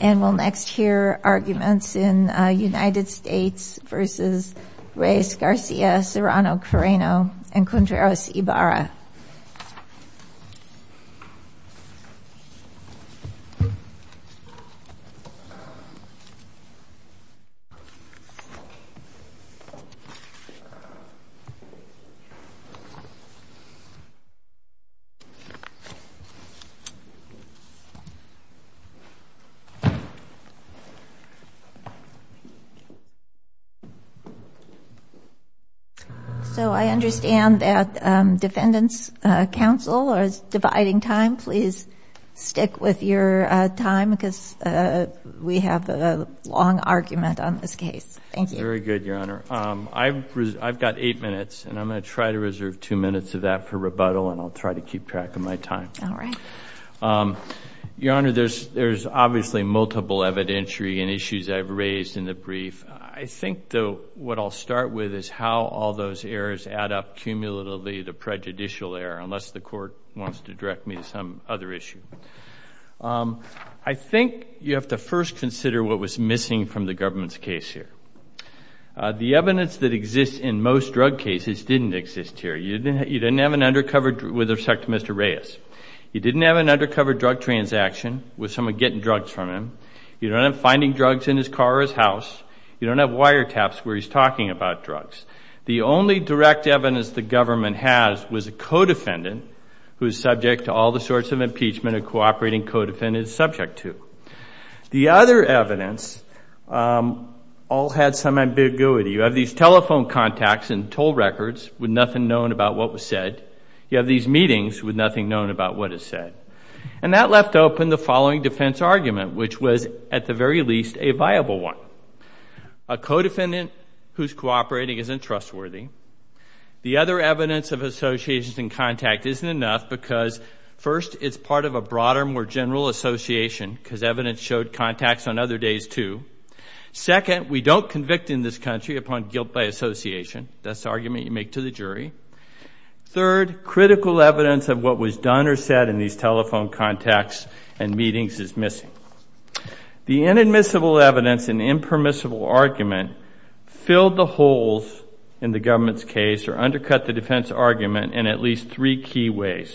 And we'll next hear arguments in United States v. Reyes-Garcia, Serrano-Carreno, and Contreras-Ibarra. So I understand that defendants' counsel is dividing time. Please stick with your time because we have a long argument on this case. Thank you. Very good, Your Honor. I've got eight minutes and I'm going to try to reserve two minutes of that for rebuttal and I'll try to keep track of my time. All right. Your Honor, there's obviously multiple evidentiary and issues I've raised in the brief. I think, though, what I'll start with is how all those errors add up cumulatively to prejudicial error, unless the Court wants to direct me to some other issue. I think you have to first consider what was missing from the government's case here. The evidence that exists in most drug cases didn't exist here. You didn't have an undercover with respect to Mr. Reyes. You didn't have an undercover drug transaction with someone getting drugs from him. You don't have finding drugs in his car or his house. You don't have wiretaps where he's talking about drugs. The only direct evidence the government has was a co-defendant who is subject to all the sorts of impeachment a cooperating co-defendant is subject to. The other evidence all had some ambiguity. You have these telephone contacts and toll records with nothing known about what was said. You have these meetings with nothing known about what is said. And that left open the following defense argument, which was, at the very least, a viable one. A co-defendant who's cooperating isn't trustworthy. The other evidence of associations and contact isn't enough because, first, it's part of a broader, more general association because evidence showed contacts on other days, too. Second, we don't convict in this country upon guilt by association. That's the argument you make to the jury. Third, critical evidence of what was done or said in these telephone contacts and meetings is missing. The inadmissible evidence and impermissible argument filled the holes in the government's case or undercut the defense argument in at least three key ways.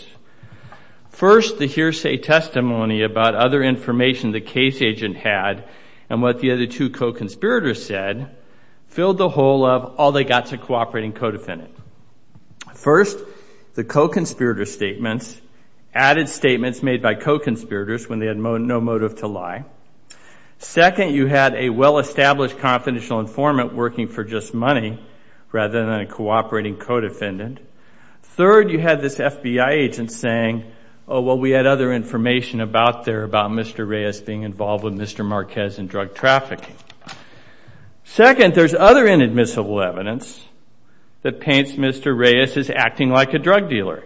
First, the hearsay testimony about other information the case agent had and what the other two co-conspirators said filled the hole of all they got to cooperating co-defendant. First, the co-conspirator statements added statements made by co-conspirators when they had no motive to lie. Second, you had a well-established confidential informant working for just money rather than a cooperating co-defendant. Third, you had this FBI agent saying, oh, well, we had other information about there about Mr. Reyes being involved with Mr. Marquez and drug trafficking. Second, there's other inadmissible evidence that paints Mr. Reyes as acting like a drug dealer.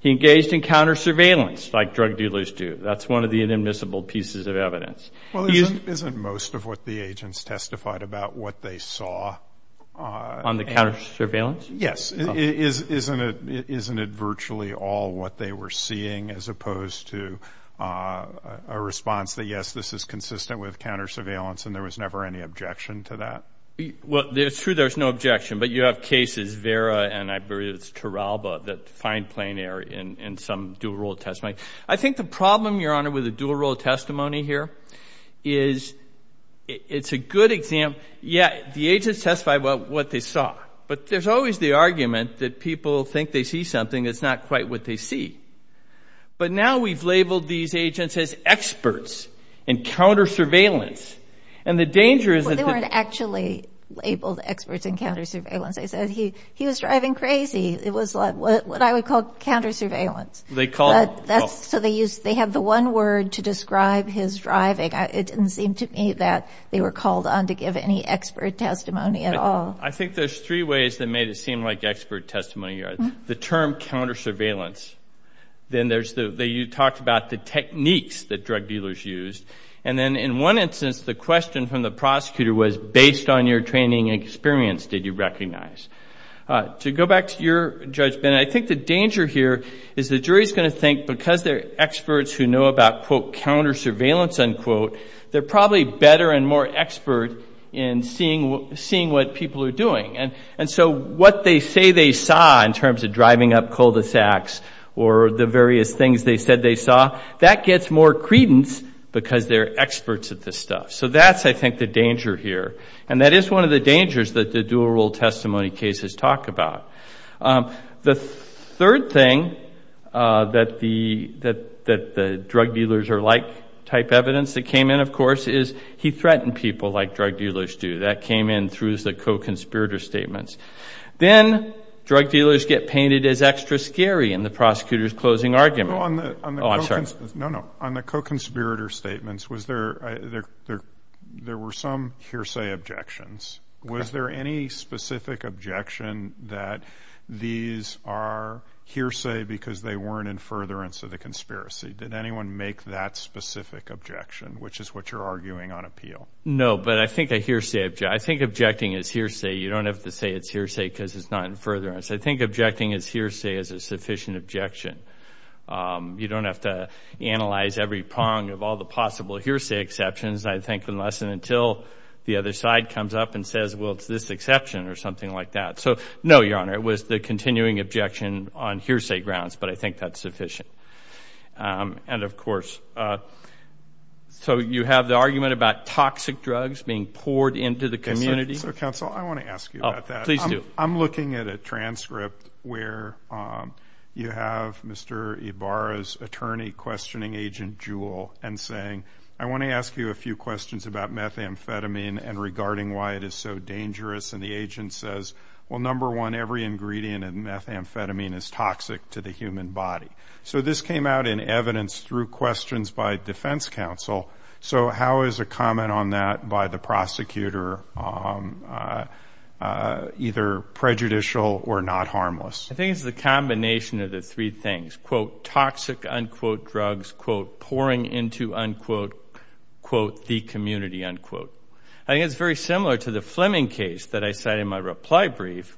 He engaged in counter-surveillance like drug dealers do. That's one of the inadmissible pieces of evidence. Well, isn't most of what the agents testified about what they saw... On the counter-surveillance? Yes. Isn't it virtually all what they were seeing as opposed to a response that, yes, this is consistent with counter-surveillance and there was never any objection to that? Well, it's true there's no objection, but you have cases, Vera and I believe it's Turalba, that find plein air in some dual-role testimony. I think the problem, Your Honor, with a dual-role testimony here is it's a good example. Yeah, the agents testified about what they saw, but there's always the argument that people think they see something that's not quite what they see. But now we've labeled these agents as experts in counter-surveillance, and the danger is that... Well, they weren't actually labeled experts in counter-surveillance. They said he was driving crazy. It was what I would call counter-surveillance. They called... So they have the one word to describe his driving. It didn't seem to me that they were called on to give any expert testimony at all. I think there's three ways that made it seem like expert testimony, Your Honor. The term counter-surveillance, then you talked about the techniques that drug dealers used, and then in one instance, the question from the prosecutor was, based on your training experience, did you recognize? To go back to your judgment, I think the danger here is the jury's going to think because they're experts who know about, quote, counter-surveillance, unquote, they're probably better and more expert in seeing what people are doing. And so what they say they saw in terms of driving up cul-de-sacs or the various things they said they saw, that gets more credence because they're experts at this stuff. So that's, I think, the danger here. And that is one of the dangers that the dual-role testimony cases talk about. The third thing that the drug dealers are like type evidence that came in, of course, is he threatened people like drug dealers do. That came in through the co-conspirator statements. Then drug dealers get painted as extra scary in the prosecutor's closing argument. Oh, I'm sorry. No, no. On the co-conspirator statements, there were some hearsay objections. Was there any specific objection that these are hearsay because they weren't in furtherance of the conspiracy? Did anyone make that specific objection, which is what you're arguing on appeal? No, but I think a hearsay, I think objecting is hearsay. You don't have to say it's hearsay because it's not in furtherance. I think objecting is hearsay is a sufficient objection. You don't have to analyze every prong of all the possible hearsay exceptions, I think, unless and until the other side comes up and says, well, it's this exception or something like that. No, Your Honor, it was the continuing objection on hearsay grounds, but I think that's sufficient. Of course, you have the argument about toxic drugs being poured into the community. Counsel, I want to ask you about that. Please do. I'm looking at a transcript where you have Mr. Ibarra's attorney questioning Agent Jewell and saying, I want to ask you a few questions about methamphetamine and regarding why it is so dangerous. And the agent says, well, number one, every ingredient in methamphetamine is toxic to the human body. So this came out in evidence through questions by defense counsel. So how is a comment on that by the prosecutor either prejudicial or not harmless? I think it's the combination of the three things, quote, toxic, unquote, drugs, quote, pouring into, unquote, quote, the community, unquote. I think it's very similar to the Fleming case that I cited in my reply brief,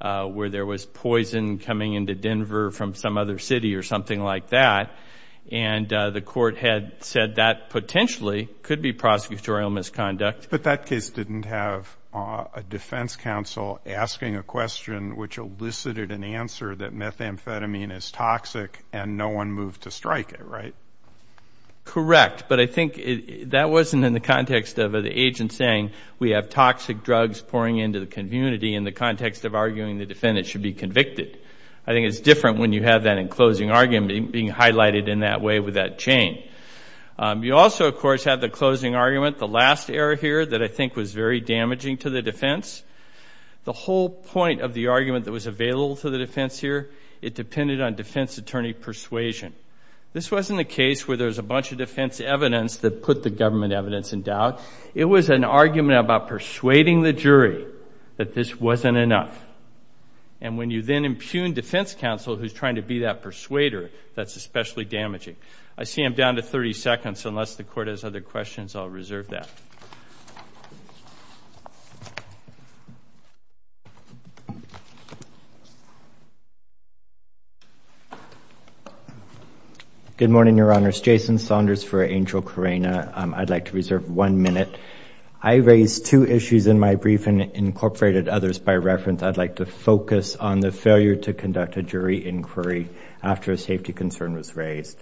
where there was poison coming into Denver from some other city or something like that. And the court had said that potentially could be prosecutorial misconduct. But that case didn't have a defense counsel asking a question which elicited an answer that methamphetamine is toxic and no one moved to strike it, right? Correct. But I think that wasn't in the context of the agent saying we have toxic drugs pouring into the community in the context of arguing the defendant should be convicted. I think it's different when you have that in closing argument being highlighted in that way with that chain. You also, of course, have the closing argument, the last error here that I think was very damaging to the defense. The whole point of the argument that was available to the defense here, it depended on defense attorney persuasion. This wasn't a case where there was a bunch of defense evidence that put the government evidence in doubt. It was an argument about persuading the jury that this wasn't enough. And when you then impugn defense counsel who's trying to be that persuader, that's especially damaging. I see I'm down to 30 seconds. Unless the court has other questions, I'll reserve that. Good morning, Your Honors. Jason Saunders for Angel Carina. I'd like to reserve one minute. I raised two issues in my brief and incorporated others by reference. I'd like to focus on the failure to conduct a jury inquiry after a safety concern was raised.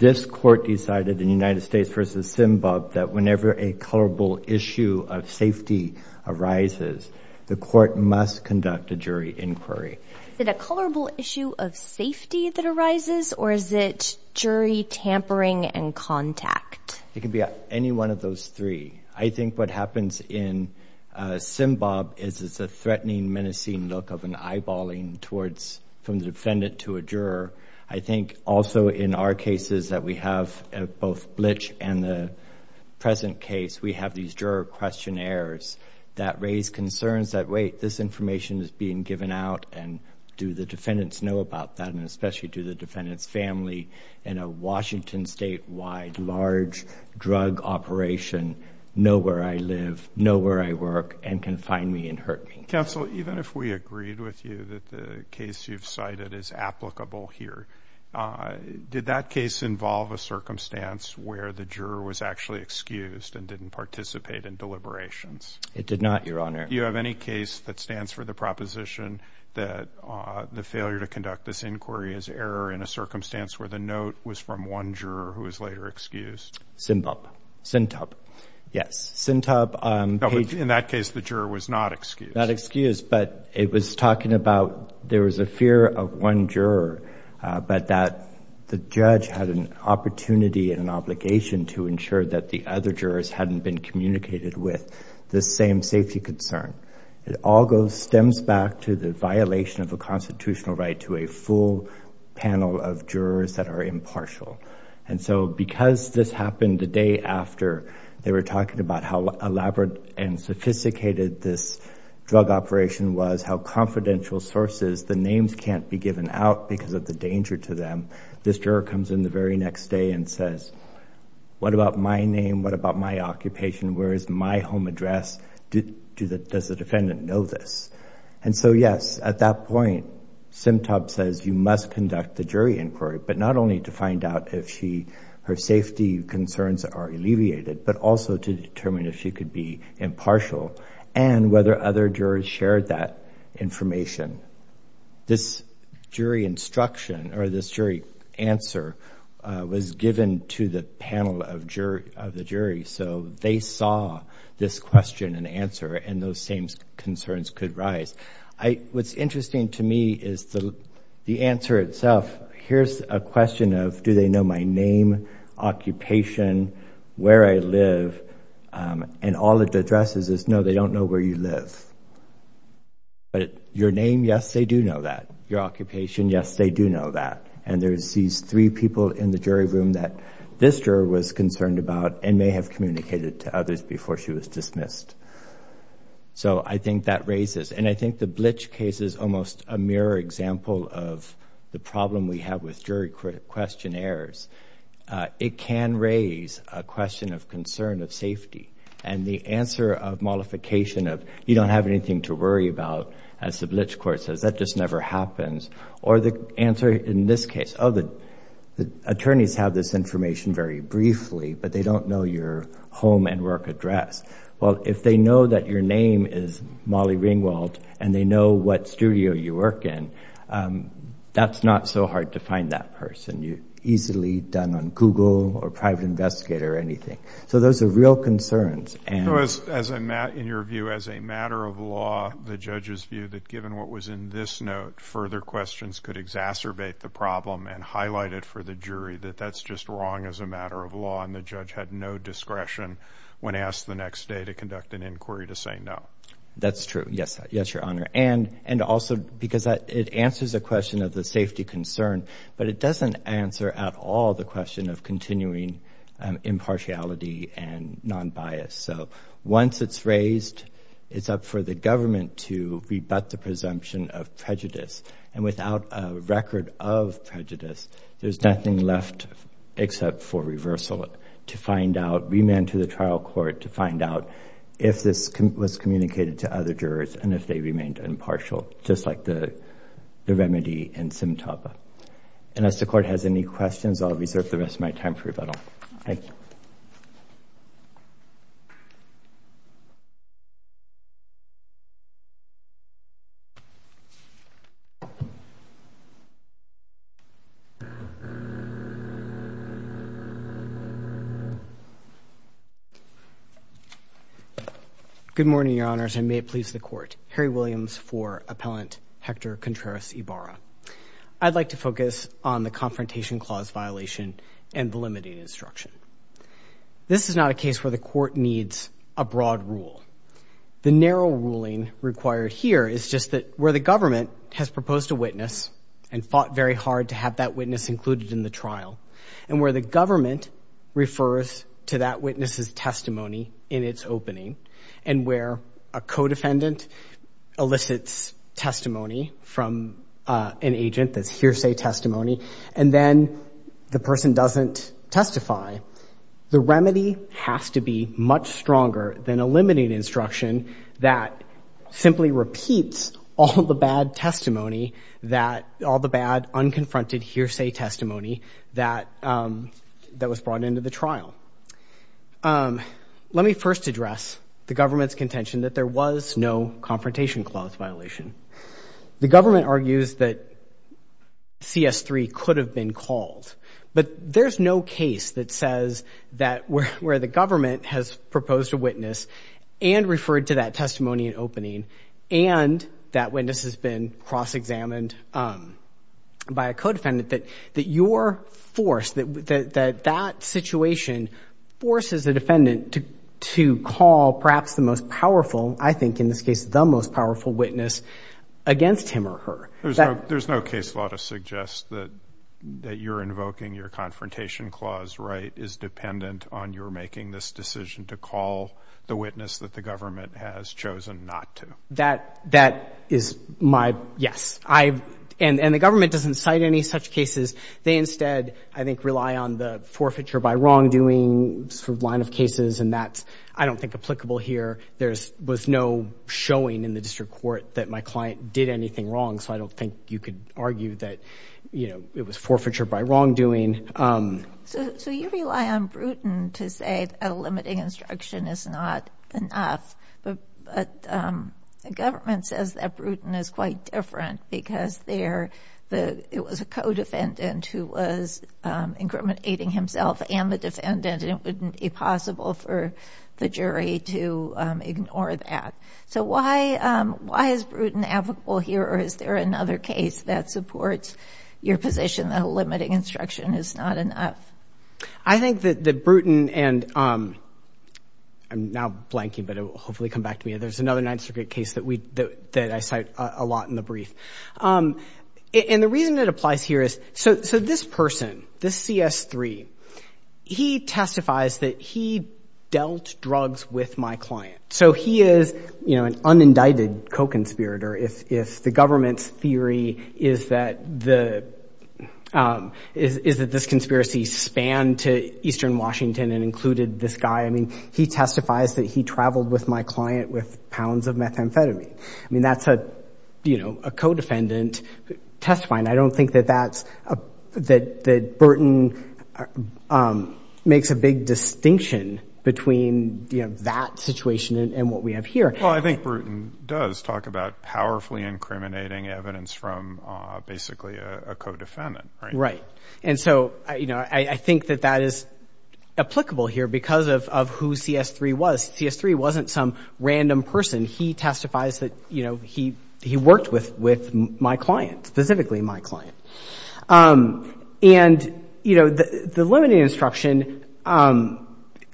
This court decided in United States v. Simbob that whenever a colorable issue of safety arises, the court must conduct a jury inquiry. Is it a colorable issue of safety that arises or is it jury tampering and contact? It can be any one of those three. I think what happens in Simbob is it's a threatening, menacing look of an eyeballing from the defendant to a juror. I think also in our cases that we have, both Blitch and the present case, we have these juror questionnaires that raise concerns that, wait, this information is being given out and do the defendants know about that and especially do the defendant's family in a Washington statewide large drug operation know where I live, know where I work, and can find me and hurt me. Counsel, even if we agreed with you that the case you've cited is applicable here, did that case involve a circumstance where the juror was actually excused and didn't participate in deliberations? It did not, Your Honor. Do you have any case that stands for the proposition that the failure to conduct this inquiry is error in a circumstance where the note was from one juror who was later excused? Simbob. Sintob. Yes. Sintob. In that case, the juror was not excused. Not excused, but it was talking about there was a fear of one juror, but that the judge had an opportunity and an obligation to ensure that the other jurors hadn't been communicated with the same safety concern. It all stems back to the violation of a constitutional right to a full panel of jurors that are impartial. And so because this happened the day after, they were talking about how elaborate and sophisticated this drug operation was, how confidential sources, the names can't be given out because of the danger to them. This juror comes in the very next day and says, what about my name? What about my occupation? Where is my home address? Does the defendant know this? And so yes, at that point, Simbob says you must conduct the jury inquiry, but not only to find out if her safety concerns are alleviated, but also to determine if she could be impartial and whether other jurors shared that information. This jury instruction or this jury answer was given to the panel of the jury. So they saw this question and answer and those same concerns could rise. What's interesting to me is the answer itself. Here's a question of, do they know my name, occupation, where I live? And all it addresses is no, they don't know where you live, but your name, yes, they do know that. Your occupation, yes, they do know that. And there's these three people in the jury room that this juror was concerned about and may have communicated to others before she was dismissed. So I think that raises, and I think the Blitch case is almost a mirror example of the problem we have with jury questionnaires. It can raise a question of concern of safety and the answer of modification of, you don't have anything to worry about, as the Blitch court says, that just never happens. Or the answer in this case, oh, the attorneys have this information very briefly, but they don't know your home and work address. Well, if they know that your name is Molly Ringwald and they know what studio you work in, that's not so hard to find that person. You're easily done on Google or private investigator or anything. So those are real concerns. And- So as a matter, in your view, as a matter of law, the judge's view that given what was in this note, further questions could exacerbate the problem and highlight it for the jury that that's just wrong as a matter of law and the judge had no discretion when asked the next day to conduct an inquiry to say no. That's true. Yes. Yes, Your Honor. And also because it answers a question of the safety concern, but it doesn't answer at all the question of continuing impartiality and non-bias. So once it's raised, it's up for the government to rebut the presumption of prejudice. And without a record of prejudice, there's nothing left except for reversal to find out, remand to the trial court to find out if this was communicated to other jurors and if they remained impartial, just like the remedy in Simtaba. And as the court has any questions, I'll reserve the rest of my time for rebuttal. Thank you. Good morning, Your Honors, and may it please the court. Harry Williams for Appellant Hector Contreras Ibarra. I'd like to focus on the confrontation clause violation and the limiting instruction. This is not a case where the court needs a broad rule. The narrow ruling required here is just that where the government has proposed a witness and fought very hard to have that witness included in the trial, and where the government refers to that witness's testimony in its opening, and where a co-defendant elicits testimony from an agent that's hearsay testimony, and then the person doesn't testify. The remedy has to be much stronger than a limiting instruction that simply repeats all the bad testimony that—all the bad, unconfronted hearsay testimony that was brought into the trial. Let me first address the government's contention that there was no confrontation clause violation. The government argues that CS3 could have been called, but there's no case that says that where the government has proposed a witness and referred to that testimony in opening, and that witness has been cross-examined by a co-defendant, that your force, that that situation forces the defendant to call perhaps the most powerful, I think in this case the most powerful witness against him or her. There's no case law to suggest that you're invoking your confrontation clause, right, is dependent on your making this decision to call the witness that the government has chosen not to. That is my—yes. And the government doesn't cite any such cases. They instead, I think, rely on the forfeiture by wrongdoing sort of line of cases, and that's, I don't think, applicable here. There was no showing in the district court that my client did anything wrong, so I don't think you could argue that, you know, it was forfeiture by wrongdoing. So you rely on Bruton to say that a limiting instruction is not enough, but the government says that Bruton is quite different because there—it was a co-defendant who was incriminating himself and the defendant, and it wouldn't be possible for the jury to ignore that. So why is Bruton applicable here, or is there another case that supports your position that a limiting instruction is not enough? I think that Bruton and—I'm now blanking, but it will hopefully come back to me. There's another Ninth Circuit case that we—that I cite a lot in the brief. And the reason it applies here is—so this person, this CS3, he testifies that he dealt drugs with my client. So he is, you know, an unindicted co-conspirator if the government's theory is that the—is that this conspiracy spanned to eastern Washington and included this guy. I mean, he testifies that he traveled with my client with pounds of methamphetamine. I mean, that's a, you know, a co-defendant testifying. I don't think that that's—that Bruton makes a big distinction between, you know, that situation and what we have here. Well, I think Bruton does talk about powerfully incriminating evidence from basically a co-defendant, right? Right. And so, you know, I think that that is applicable here because of who CS3 was. CS3 wasn't some random person. He testifies that, you know, he worked with my client, specifically my client. And you know, the limited instruction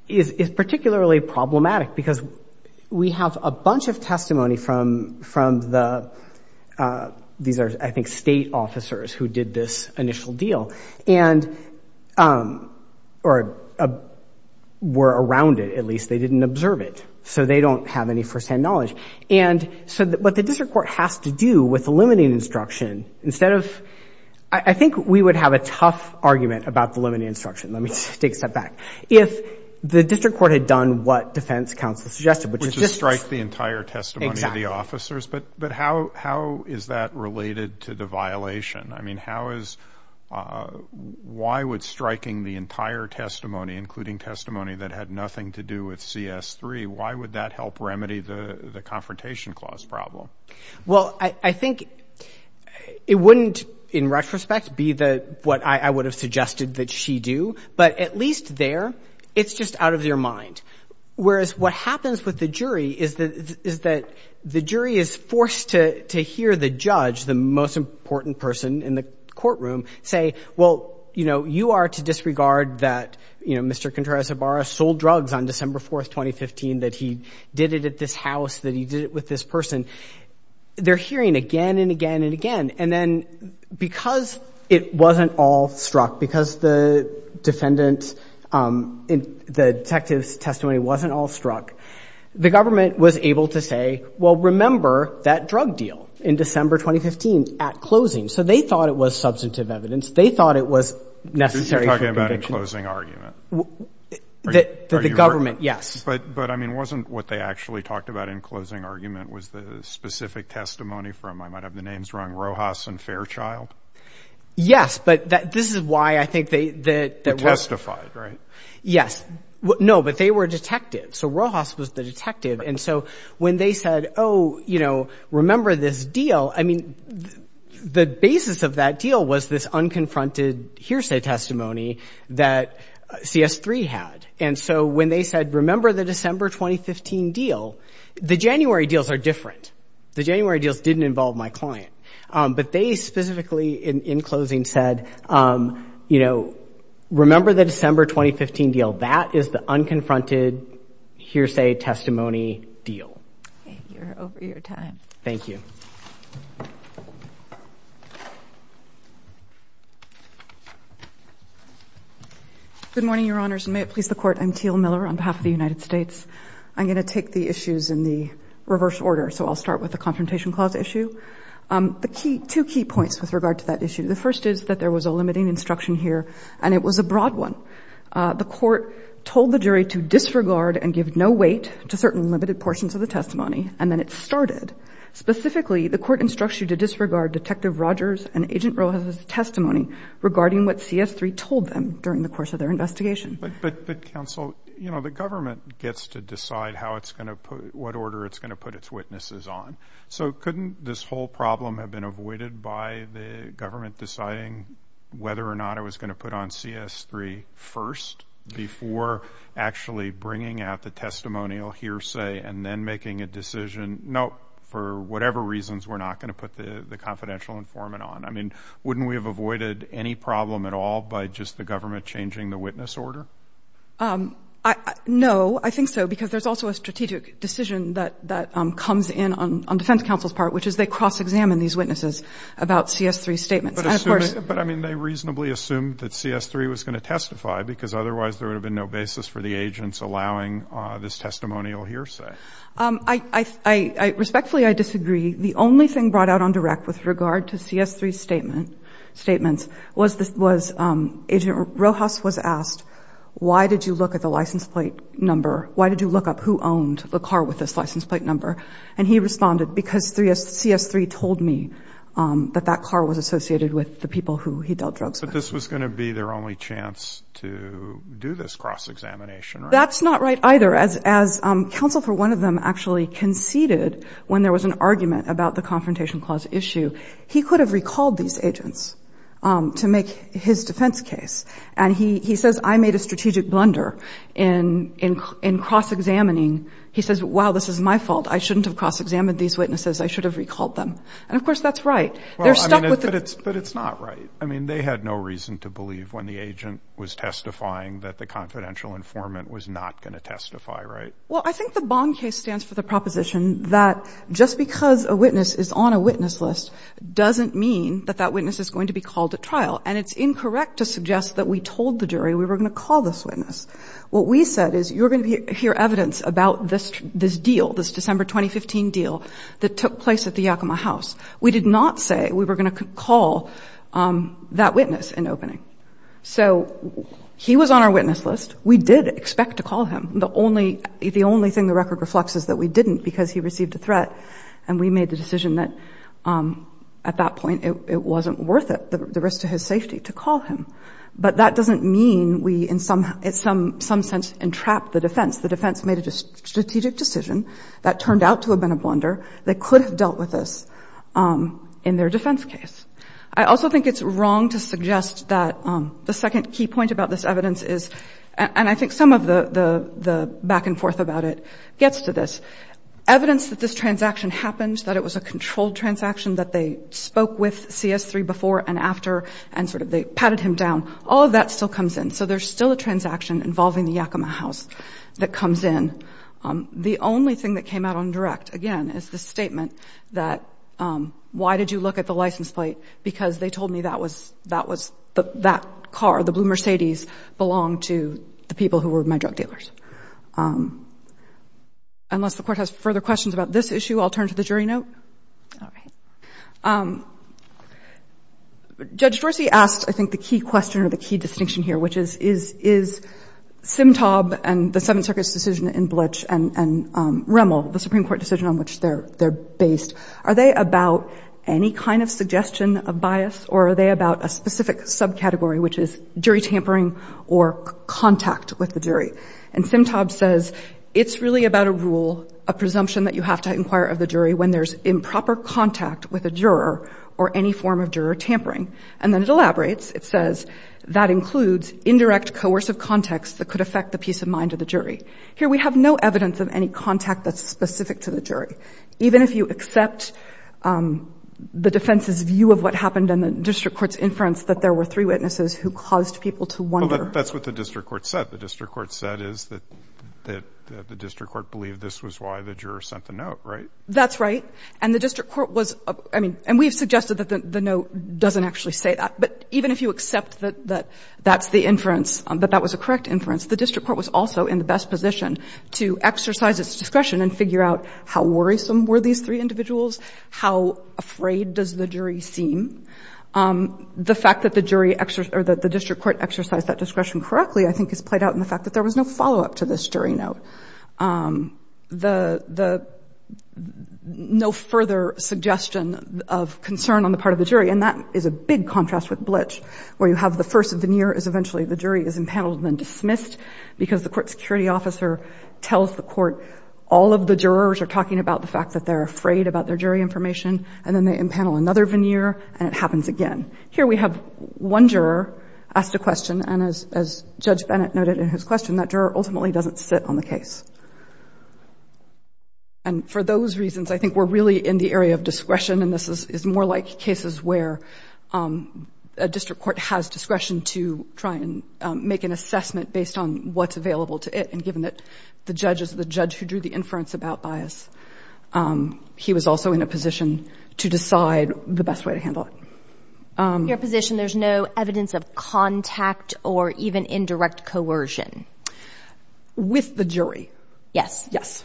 is particularly problematic because we have a bunch of testimony from the—these are, I think, state officers who did this initial deal and—or were around it at least. They didn't observe it. So they don't have any first-hand knowledge. And so what the district court has to do with the limited instruction, instead of—I think we would have a tough argument about the limited instruction. Let me take a step back. If the district court had done what defense counsel suggested, which is just— Which is strike the entire testimony of the officers. Exactly. But how is that related to the violation? I mean, how is—why would striking the entire testimony, including testimony that had nothing to do with CS3, why would that help remedy the Confrontation Clause problem? Well, I think it wouldn't, in retrospect, be the—what I would have suggested that she do. But at least there, it's just out of your mind. Whereas what happens with the jury is that the jury is forced to hear the judge, the most important person in the courtroom, say, well, you know, you are to disregard that, you know, Mr. Contreras-Ibarra sold drugs on December 4th, 2015, that he did it at this house, that he did it with this person. They're hearing again and again and again. And then because it wasn't all struck, because the defendant—the detective's testimony wasn't all struck, the government was able to say, well, remember that drug deal in December 2015 at closing. So they thought it was substantive evidence. They thought it was necessary for conviction. The government, yes. But I mean, wasn't what they actually talked about in closing argument was the specific testimony from—I might have the names wrong—Rojas and Fairchild? Yes, but this is why I think they— They testified, right? Yes. No, but they were detectives. So Rojas was the detective. And so when they said, oh, you know, remember this deal, I mean, the basis of that deal was this unconfronted hearsay testimony that CS3 had. And so when they said, remember the December 2015 deal, the January deals are different. The January deals didn't involve my client. But they specifically, in closing, said, you know, remember the December 2015 deal. That is the unconfronted hearsay testimony deal. Okay. You're over your time. Thank you. Good morning, Your Honors, and may it please the Court. I'm Teal Miller on behalf of the United States. I'm going to take the issues in the reverse order. So I'll start with the Confrontation Clause issue. The key—two key points with regard to that issue. The first is that there was a limiting instruction here, and it was a broad one. The Court told the jury to disregard and give no weight to certain limited portions of the testimony. And then it started. Specifically, the Court instructs you to disregard Detective Rogers and Agent Rojas' testimony regarding what CS3 told them during the course of their investigation. But, Counsel, you know, the government gets to decide how it's going to put—what order it's going to put its witnesses on. So couldn't this whole problem have been avoided by the government deciding whether or not it was going to put on CS3 first before actually bringing out the testimonial hearsay and then making a decision, no, for whatever reasons, we're not going to put the confidential informant on? I mean, wouldn't we have avoided any problem at all by just the government changing the witness order? No, I think so, because there's also a strategic decision that comes in on Defense Counsel's part, which is they cross-examine these witnesses about CS3's statements. But, I mean, they reasonably assumed that CS3 was going to testify, because otherwise there would have been no basis for the agents allowing this testimonial hearsay. Respectfully, I disagree. The only thing brought out on direct with regard to CS3's statements was Agent Rojas was asked, why did you look at the license plate number? Why did you look up who owned the car with this license plate number? And he responded, because CS3 told me that that car was associated with the people who he dealt drugs with. But this was going to be their only chance to do this cross-examination, right? That's not right either. As Counsel for one of them actually conceded when there was an argument about the Confrontation Clause issue, he could have recalled these agents to make his defense case. And he says, I made a strategic blunder in cross-examining. He says, wow, this is my fault. I shouldn't have cross-examined these witnesses. I should have recalled them. And, of course, that's right. They're stuck with the- Well, I mean, but it's not right. I mean, they had no reason to believe when the agent was testifying that the confidential informant was not going to testify, right? Well, I think the Bond case stands for the proposition that just because a witness is on a witness list doesn't mean that that witness is going to be called to trial. And it's incorrect to suggest that we told the jury we were going to call this witness. What we said is, you're going to hear evidence about this deal, this December 2015 deal that took place at the Yakima House. We did not say we were going to call that witness an opening. So he was on our witness list. We did expect to call him. The only thing the record reflects is that we didn't because he received a threat. And we made the decision that, at that point, it wasn't worth it, the risk to his safety, to call him. But that doesn't mean we, in some sense, entrapped the defense. The defense made a strategic decision that turned out to have been a blunder. They could have dealt with this in their defense case. I also think it's wrong to suggest that the second key point about this evidence is, and I think some of the back and forth about it, gets to this. Evidence that this transaction happened, that it was a controlled transaction, that they spoke with CS3 before and after, and sort of they patted him down, all of that still comes in. So there's still a transaction involving the Yakima House that comes in. The only thing that came out on direct, again, is the statement that, why did you look at the license plate? Because they told me that was, that car, the blue Mercedes, belonged to the people who were my drug dealers. Unless the Court has further questions about this issue, I'll turn to the jury note. Judge Dorsey asked, I think, the key question or the key distinction here, which is, is Simtob and the Seventh Circuit's decision in Bletch and Rimmel, the Supreme Court decision on which they're based, are they about any kind of suggestion of bias, or are they about a specific subcategory, which is jury tampering or contact with the jury? And Simtob says, it's really about a rule, a presumption that you have to inquire of the jury when there's improper contact with a juror or any form of juror tampering. And then it elaborates. It says, that includes indirect, coercive context that could affect the peace of mind of the jury. Here we have no evidence of any contact that's specific to the jury. Even if you accept the defense's view of what happened in the district court's inference that there were three witnesses who caused people to wonder. That's what the district court said. The district court said is that the district court believed this was why the juror sent the note, right? That's right. And the district court was, I mean, and we've suggested that the note doesn't actually say that. But even if you accept that that's the inference, that that was a correct inference, the district court was also in the best position to exercise its discretion and figure out how worrisome were these three individuals? How afraid does the jury seem? The fact that the jury, or that the district court exercised that discretion correctly, I think is played out in the fact that there was no follow-up to this jury note. No further suggestion of concern on the part of the jury. And that is a big contrast with bleach, where you have the first veneer is eventually the the court security officer tells the court all of the jurors are talking about the fact that they're afraid about their jury information, and then they impanel another veneer, and it happens again. Here we have one juror asked a question, and as Judge Bennett noted in his question, that juror ultimately doesn't sit on the case. And for those reasons, I think we're really in the area of discretion, and this is more like cases where a district court has discretion to try and make an assessment based on what is available to it. And given that the judge is the judge who drew the inference about bias, he was also in a position to decide the best way to handle it. Your position, there's no evidence of contact or even indirect coercion? With the jury. Yes. Yes.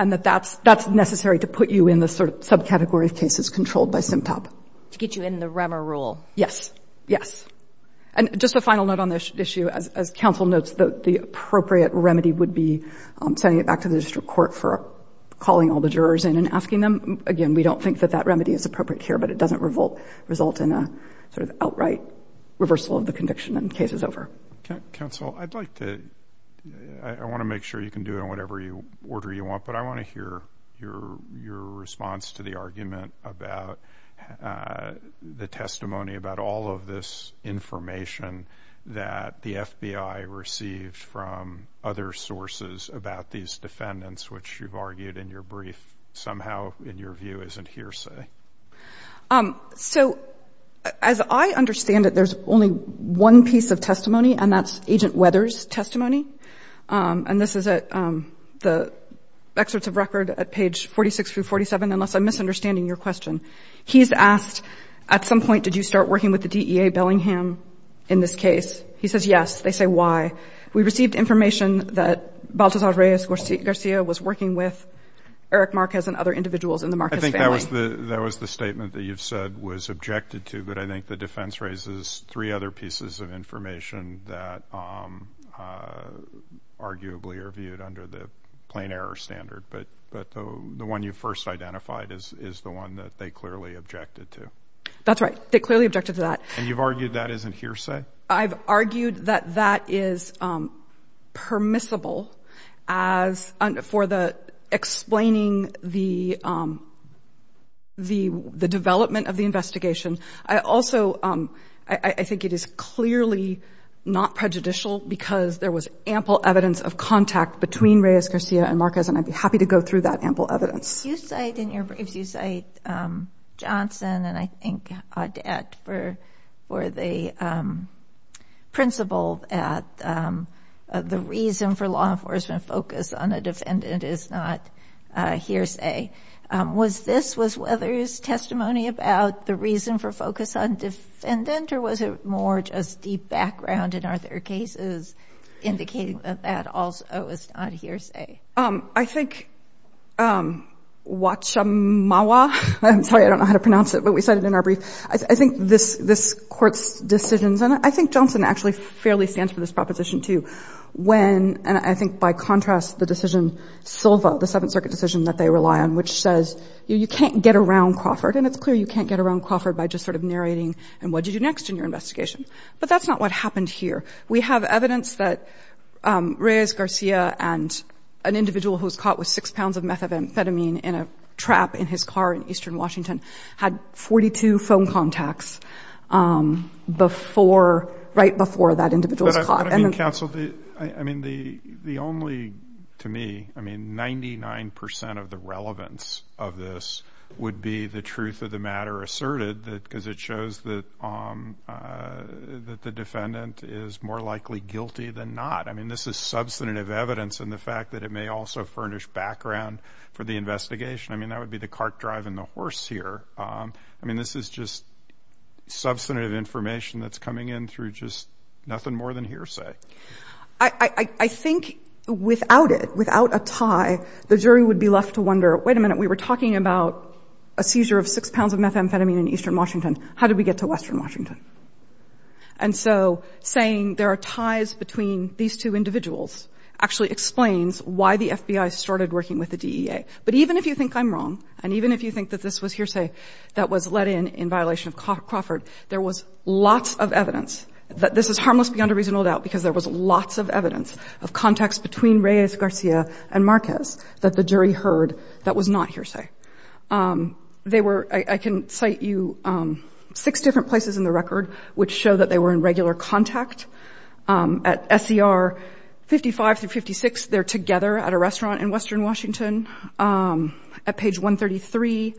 And that that's necessary to put you in the sort of subcategory of cases controlled by SEMTOP. To get you in the REMER rule. Yes. Yes. And just a final note on this issue. As counsel notes, the appropriate remedy would be sending it back to the district court for calling all the jurors in and asking them. Again, we don't think that that remedy is appropriate here, but it doesn't result in a sort of outright reversal of the conviction and case is over. Counsel, I'd like to, I want to make sure you can do it in whatever order you want, but I want to hear your response to the argument about the testimony about all of this information that the FBI received from other sources about these defendants, which you've argued in your brief, somehow, in your view, isn't hearsay. So as I understand it, there's only one piece of testimony and that's Agent Weathers testimony. And this is at the excerpts of record at page 46 through 47, unless I'm misunderstanding your question. He's asked, at some point, did you start working with the DEA Bellingham in this case? He says, yes. They say, why? We received information that Baltazar Reyes Garcia was working with Eric Marquez and other individuals in the Marquez family. I think that was the statement that you've said was objected to, but I think the defense raises three other pieces of information that arguably are viewed under the plain error standard. But the one you first identified is the one that they clearly objected to. That's right. They clearly objected to that. And you've argued that isn't hearsay? I've argued that that is permissible for explaining the development of the investigation. I also, I think it is clearly not prejudicial because there was ample evidence of contact between Reyes Garcia and Marquez, and I'd be happy to go through that ample evidence. If you cite Johnson and I think Audet for the principle that the reason for law enforcement focus on a defendant is not hearsay, was this Weathers' testimony about the reason for focus on defendant, or was it more just deep background, and are there cases indicating that that also is not hearsay? I think Wachamawa, I'm sorry, I don't know how to pronounce it, but we cited it in our brief. I think this court's decisions, and I think Johnson actually fairly stands for this proposition too, when, and I think by contrast, the decision Silva, the Seventh Circuit decision that they rely on, which says you can't get around Crawford, and it's clear you can't get around Crawford by just sort of narrating, and what do you do next in your investigation? But that's not what happened here. We have evidence that Reyes Garcia and an individual who was caught with six pounds of methamphetamine in a trap in his car in eastern Washington had 42 phone contacts before, right before that individual was caught. But I mean, counsel, I mean, the only, to me, I mean, 99% of the relevance of this would be the truth of the matter asserted, because it shows that the defendant is more likely guilty than not. I mean, this is substantive evidence in the fact that it may also furnish background for the investigation. I mean, that would be the cart driving the horse here. I mean, this is just substantive information that's coming in through just nothing more than hearsay. I think without it, without a tie, the jury would be left to wonder, wait a minute, we were talking about a seizure of six pounds of methamphetamine in eastern Washington. How did we get to western Washington? And so saying there are ties between these two individuals actually explains why the FBI started working with the DEA. But even if you think I'm wrong, and even if you think that this was hearsay that was let in in violation of Crawford, there was lots of evidence that this is harmless beyond a reasonable doubt, because there was lots of evidence of contacts between Reyes Garcia and Marquez that the jury heard that was not hearsay. They were, I can cite you six different places in the record which show that they were in regular contact. At SER 55 through 56, they're together at a restaurant in western Washington. At page 133,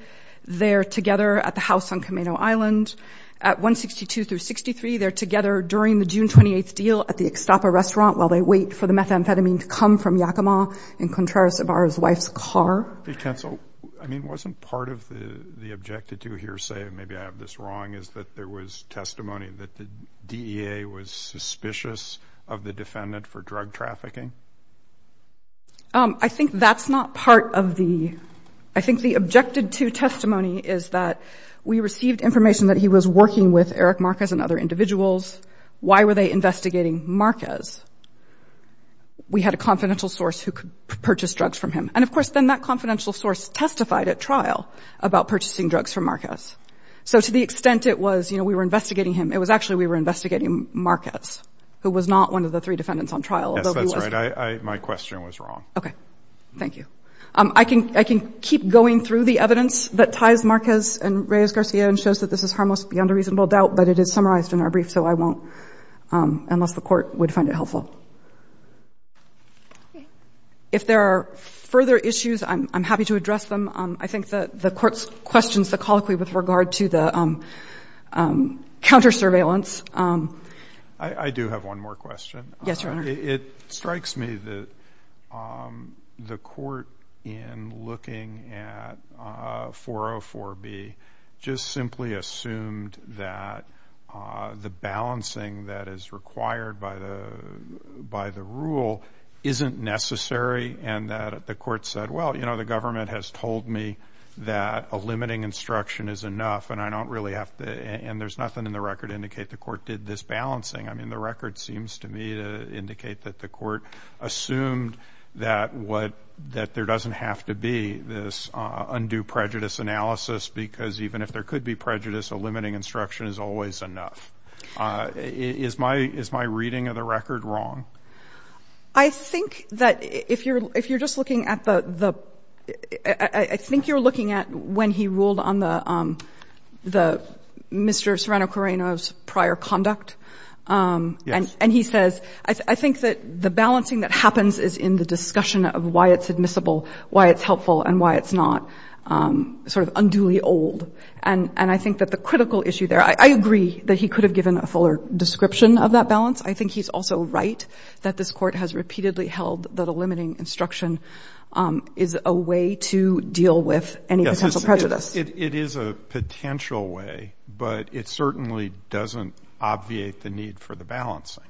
they're together at the house on Camino Island. At 162 through 63, they're together during the June 28th deal at the Extapa restaurant while they wait for the methamphetamine to come from Yakima in Contreras Ibarra's wife's car. I mean, wasn't part of the objected to hearsay, maybe I have this wrong, is that there was testimony that the DEA was suspicious of the defendant for drug trafficking? I think that's not part of the, I think the objected to testimony is that we received information that he was working with Eric Marquez and other individuals. Why were they investigating Marquez? We had a confidential source who could purchase drugs from him. And of course, then that confidential source testified at trial about purchasing drugs from Marquez. So to the extent it was, you know, we were investigating him, it was actually we were investigating Marquez, who was not one of the three defendants on trial. Yes, that's right. My question was wrong. Okay. Thank you. I can keep going through the evidence that ties Marquez and Reyes Garcia and shows that this is harmless beyond a reasonable doubt, but it is summarized in our brief. So I won't, unless the court would find it helpful. If there are further issues, I'm happy to address them. I think that the court's questions, the colloquy with regard to the counter surveillance. I do have one more question. Yes, Your Honor. It strikes me that the court in looking at 404B just simply assumed that the balancing that is required by the rule isn't necessary and that the court said, well, you know, the government has told me that a limiting instruction is enough and I don't really have to, and there's nothing in the record to indicate the court did this balancing. I mean, the record seems to me to indicate that the court assumed that there doesn't have to be this undue prejudice analysis because even if there could be prejudice, a limiting instruction is always enough. Is my reading of the record wrong? I think that if you're just looking at the — I think you're looking at when he ruled on Mr. Serrano-Correno's prior conduct, and he says, I think that the balancing that happens is in the discussion of why it's admissible, why it's helpful, and why it's not sort of unduly old. And I think that the critical issue there — I agree that he could have given a fuller description of that balance. I think he's also right that this court has repeatedly held that a limiting instruction is a way to deal with any potential prejudice. It is a potential way, but it certainly doesn't obviate the need for the balancing.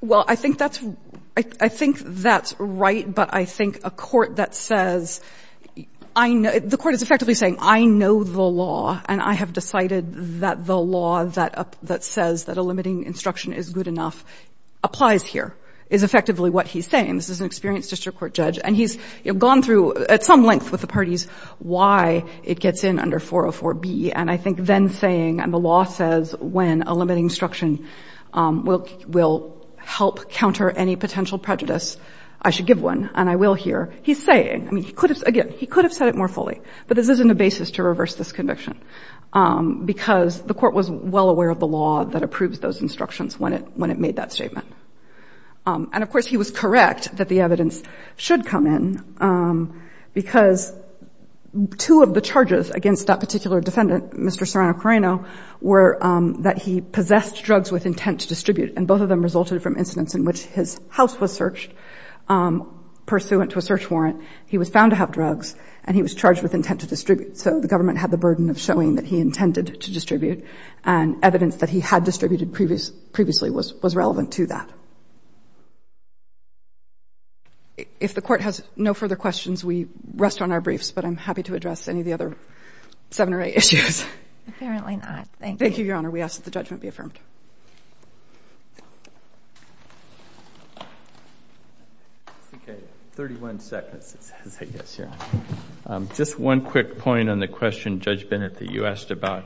Well, I think that's — I think that's right, but I think a court that says — the court is effectively saying, I know the law, and I have decided that the law that says that a limiting instruction is good enough applies here, is effectively what he's saying. This is an experienced district court judge, and he's gone through at some length with it gets in under 404B, and I think then saying — and the law says when a limiting instruction will help counter any potential prejudice, I should give one, and I will here — he's saying — I mean, he could have — again, he could have said it more fully, but this isn't a basis to reverse this conviction, because the court was well aware of the law that approves those instructions when it — when it made that statement. And of course, he was correct that the evidence should come in, because two of the charges against that particular defendant, Mr. Serrano-Correno, were that he possessed drugs with intent to distribute, and both of them resulted from incidents in which his house was searched pursuant to a search warrant. He was found to have drugs, and he was charged with intent to distribute. So the government had the burden of showing that he intended to distribute, and evidence that he had distributed previously was relevant to that. If the court has no further questions, we rest on our briefs, but I'm happy to address any of the other seven or eight issues. Apparently not. Thank you, Your Honor. We ask that the judgment be affirmed. Okay. Thirty-one seconds, it says, I guess, here. Just one quick point on the question, Judge Bennett, that you asked about.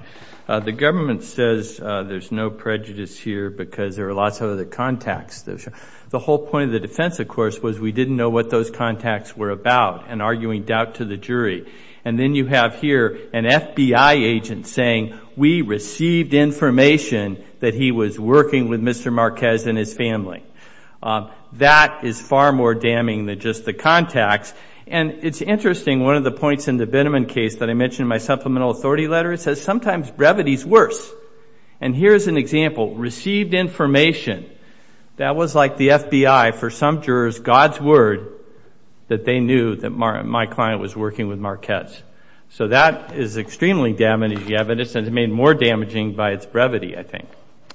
The government says there's no prejudice here because there are lots of other contacts. The whole point of the defense, of course, was we didn't know what those contacts were about and arguing doubt to the jury. And then you have here an FBI agent saying, we received information that he was working with Mr. Marquez and his family. That is far more damning than just the contacts. And it's interesting, one of the points in the Binneman case that I mentioned in my supplemental authority letter, it says sometimes brevity is worse. And here's an example. Received information. That was like the FBI, for some jurors, God's word that they knew that my client was working with Marquez. So that is extremely damaging evidence and it's made more damaging by its brevity, I think.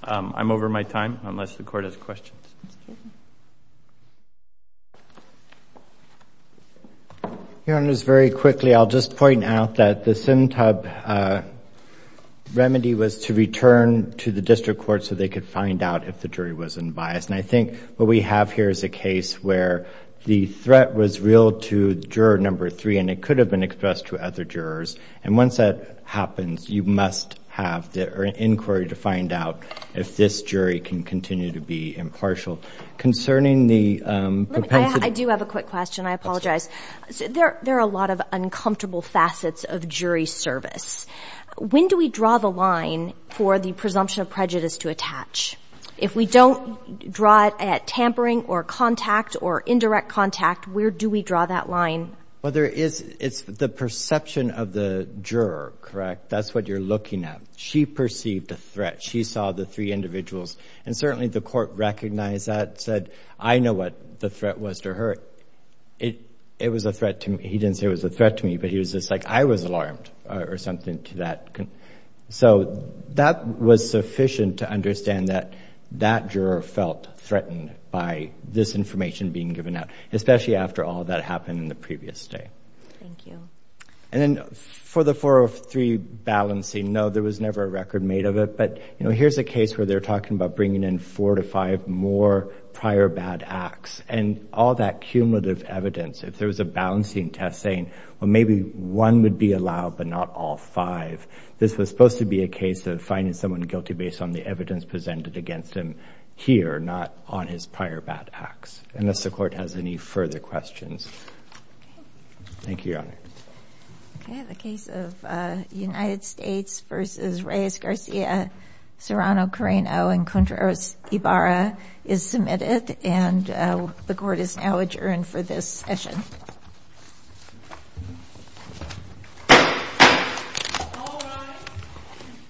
I'm over my time, unless the Court has questions. Your Honor, just very quickly, I'll just point out that the Sintub remedy was to return to the district court so they could find out if the jury was unbiased. And I think what we have here is a case where the threat was real to juror number three and it could have been expressed to other jurors. And once that happens, you must have the inquiry to find out if this jury can continue to be impartial. Concerning the propensity... I do have a quick question, I apologize. There are a lot of uncomfortable facets of jury service. When do we draw the line for the presumption of prejudice to attach? If we don't draw it at tampering or contact or indirect contact, where do we draw that line? Well, there is... It's the perception of the juror, correct? That's what you're looking at. She perceived a threat. She saw the three individuals. And certainly the Court recognized that, said, I know what the threat was to her. It was a threat to me. He didn't say it was a threat to me, but he was just like, I was alarmed or something to that. So that was sufficient to understand that that juror felt threatened by this information being given out, especially after all that happened in the previous day. Thank you. And then for the 403 balancing, no, there was never a record made of it. But here's a case where they're talking about bringing in four to five more prior bad acts and all that cumulative evidence. If there was a balancing test saying, well, maybe one would be allowed, but not all five. This was supposed to be a case of finding someone guilty based on the evidence presented against him here, not on his prior bad acts. Unless the Court has any further questions. Thank you, Your Honor. Okay. The case of United States v. Reyes-Garcia, Serrano-Correno, and Contreras-Ibarra is submitted. And the Court is now adjourned for this session.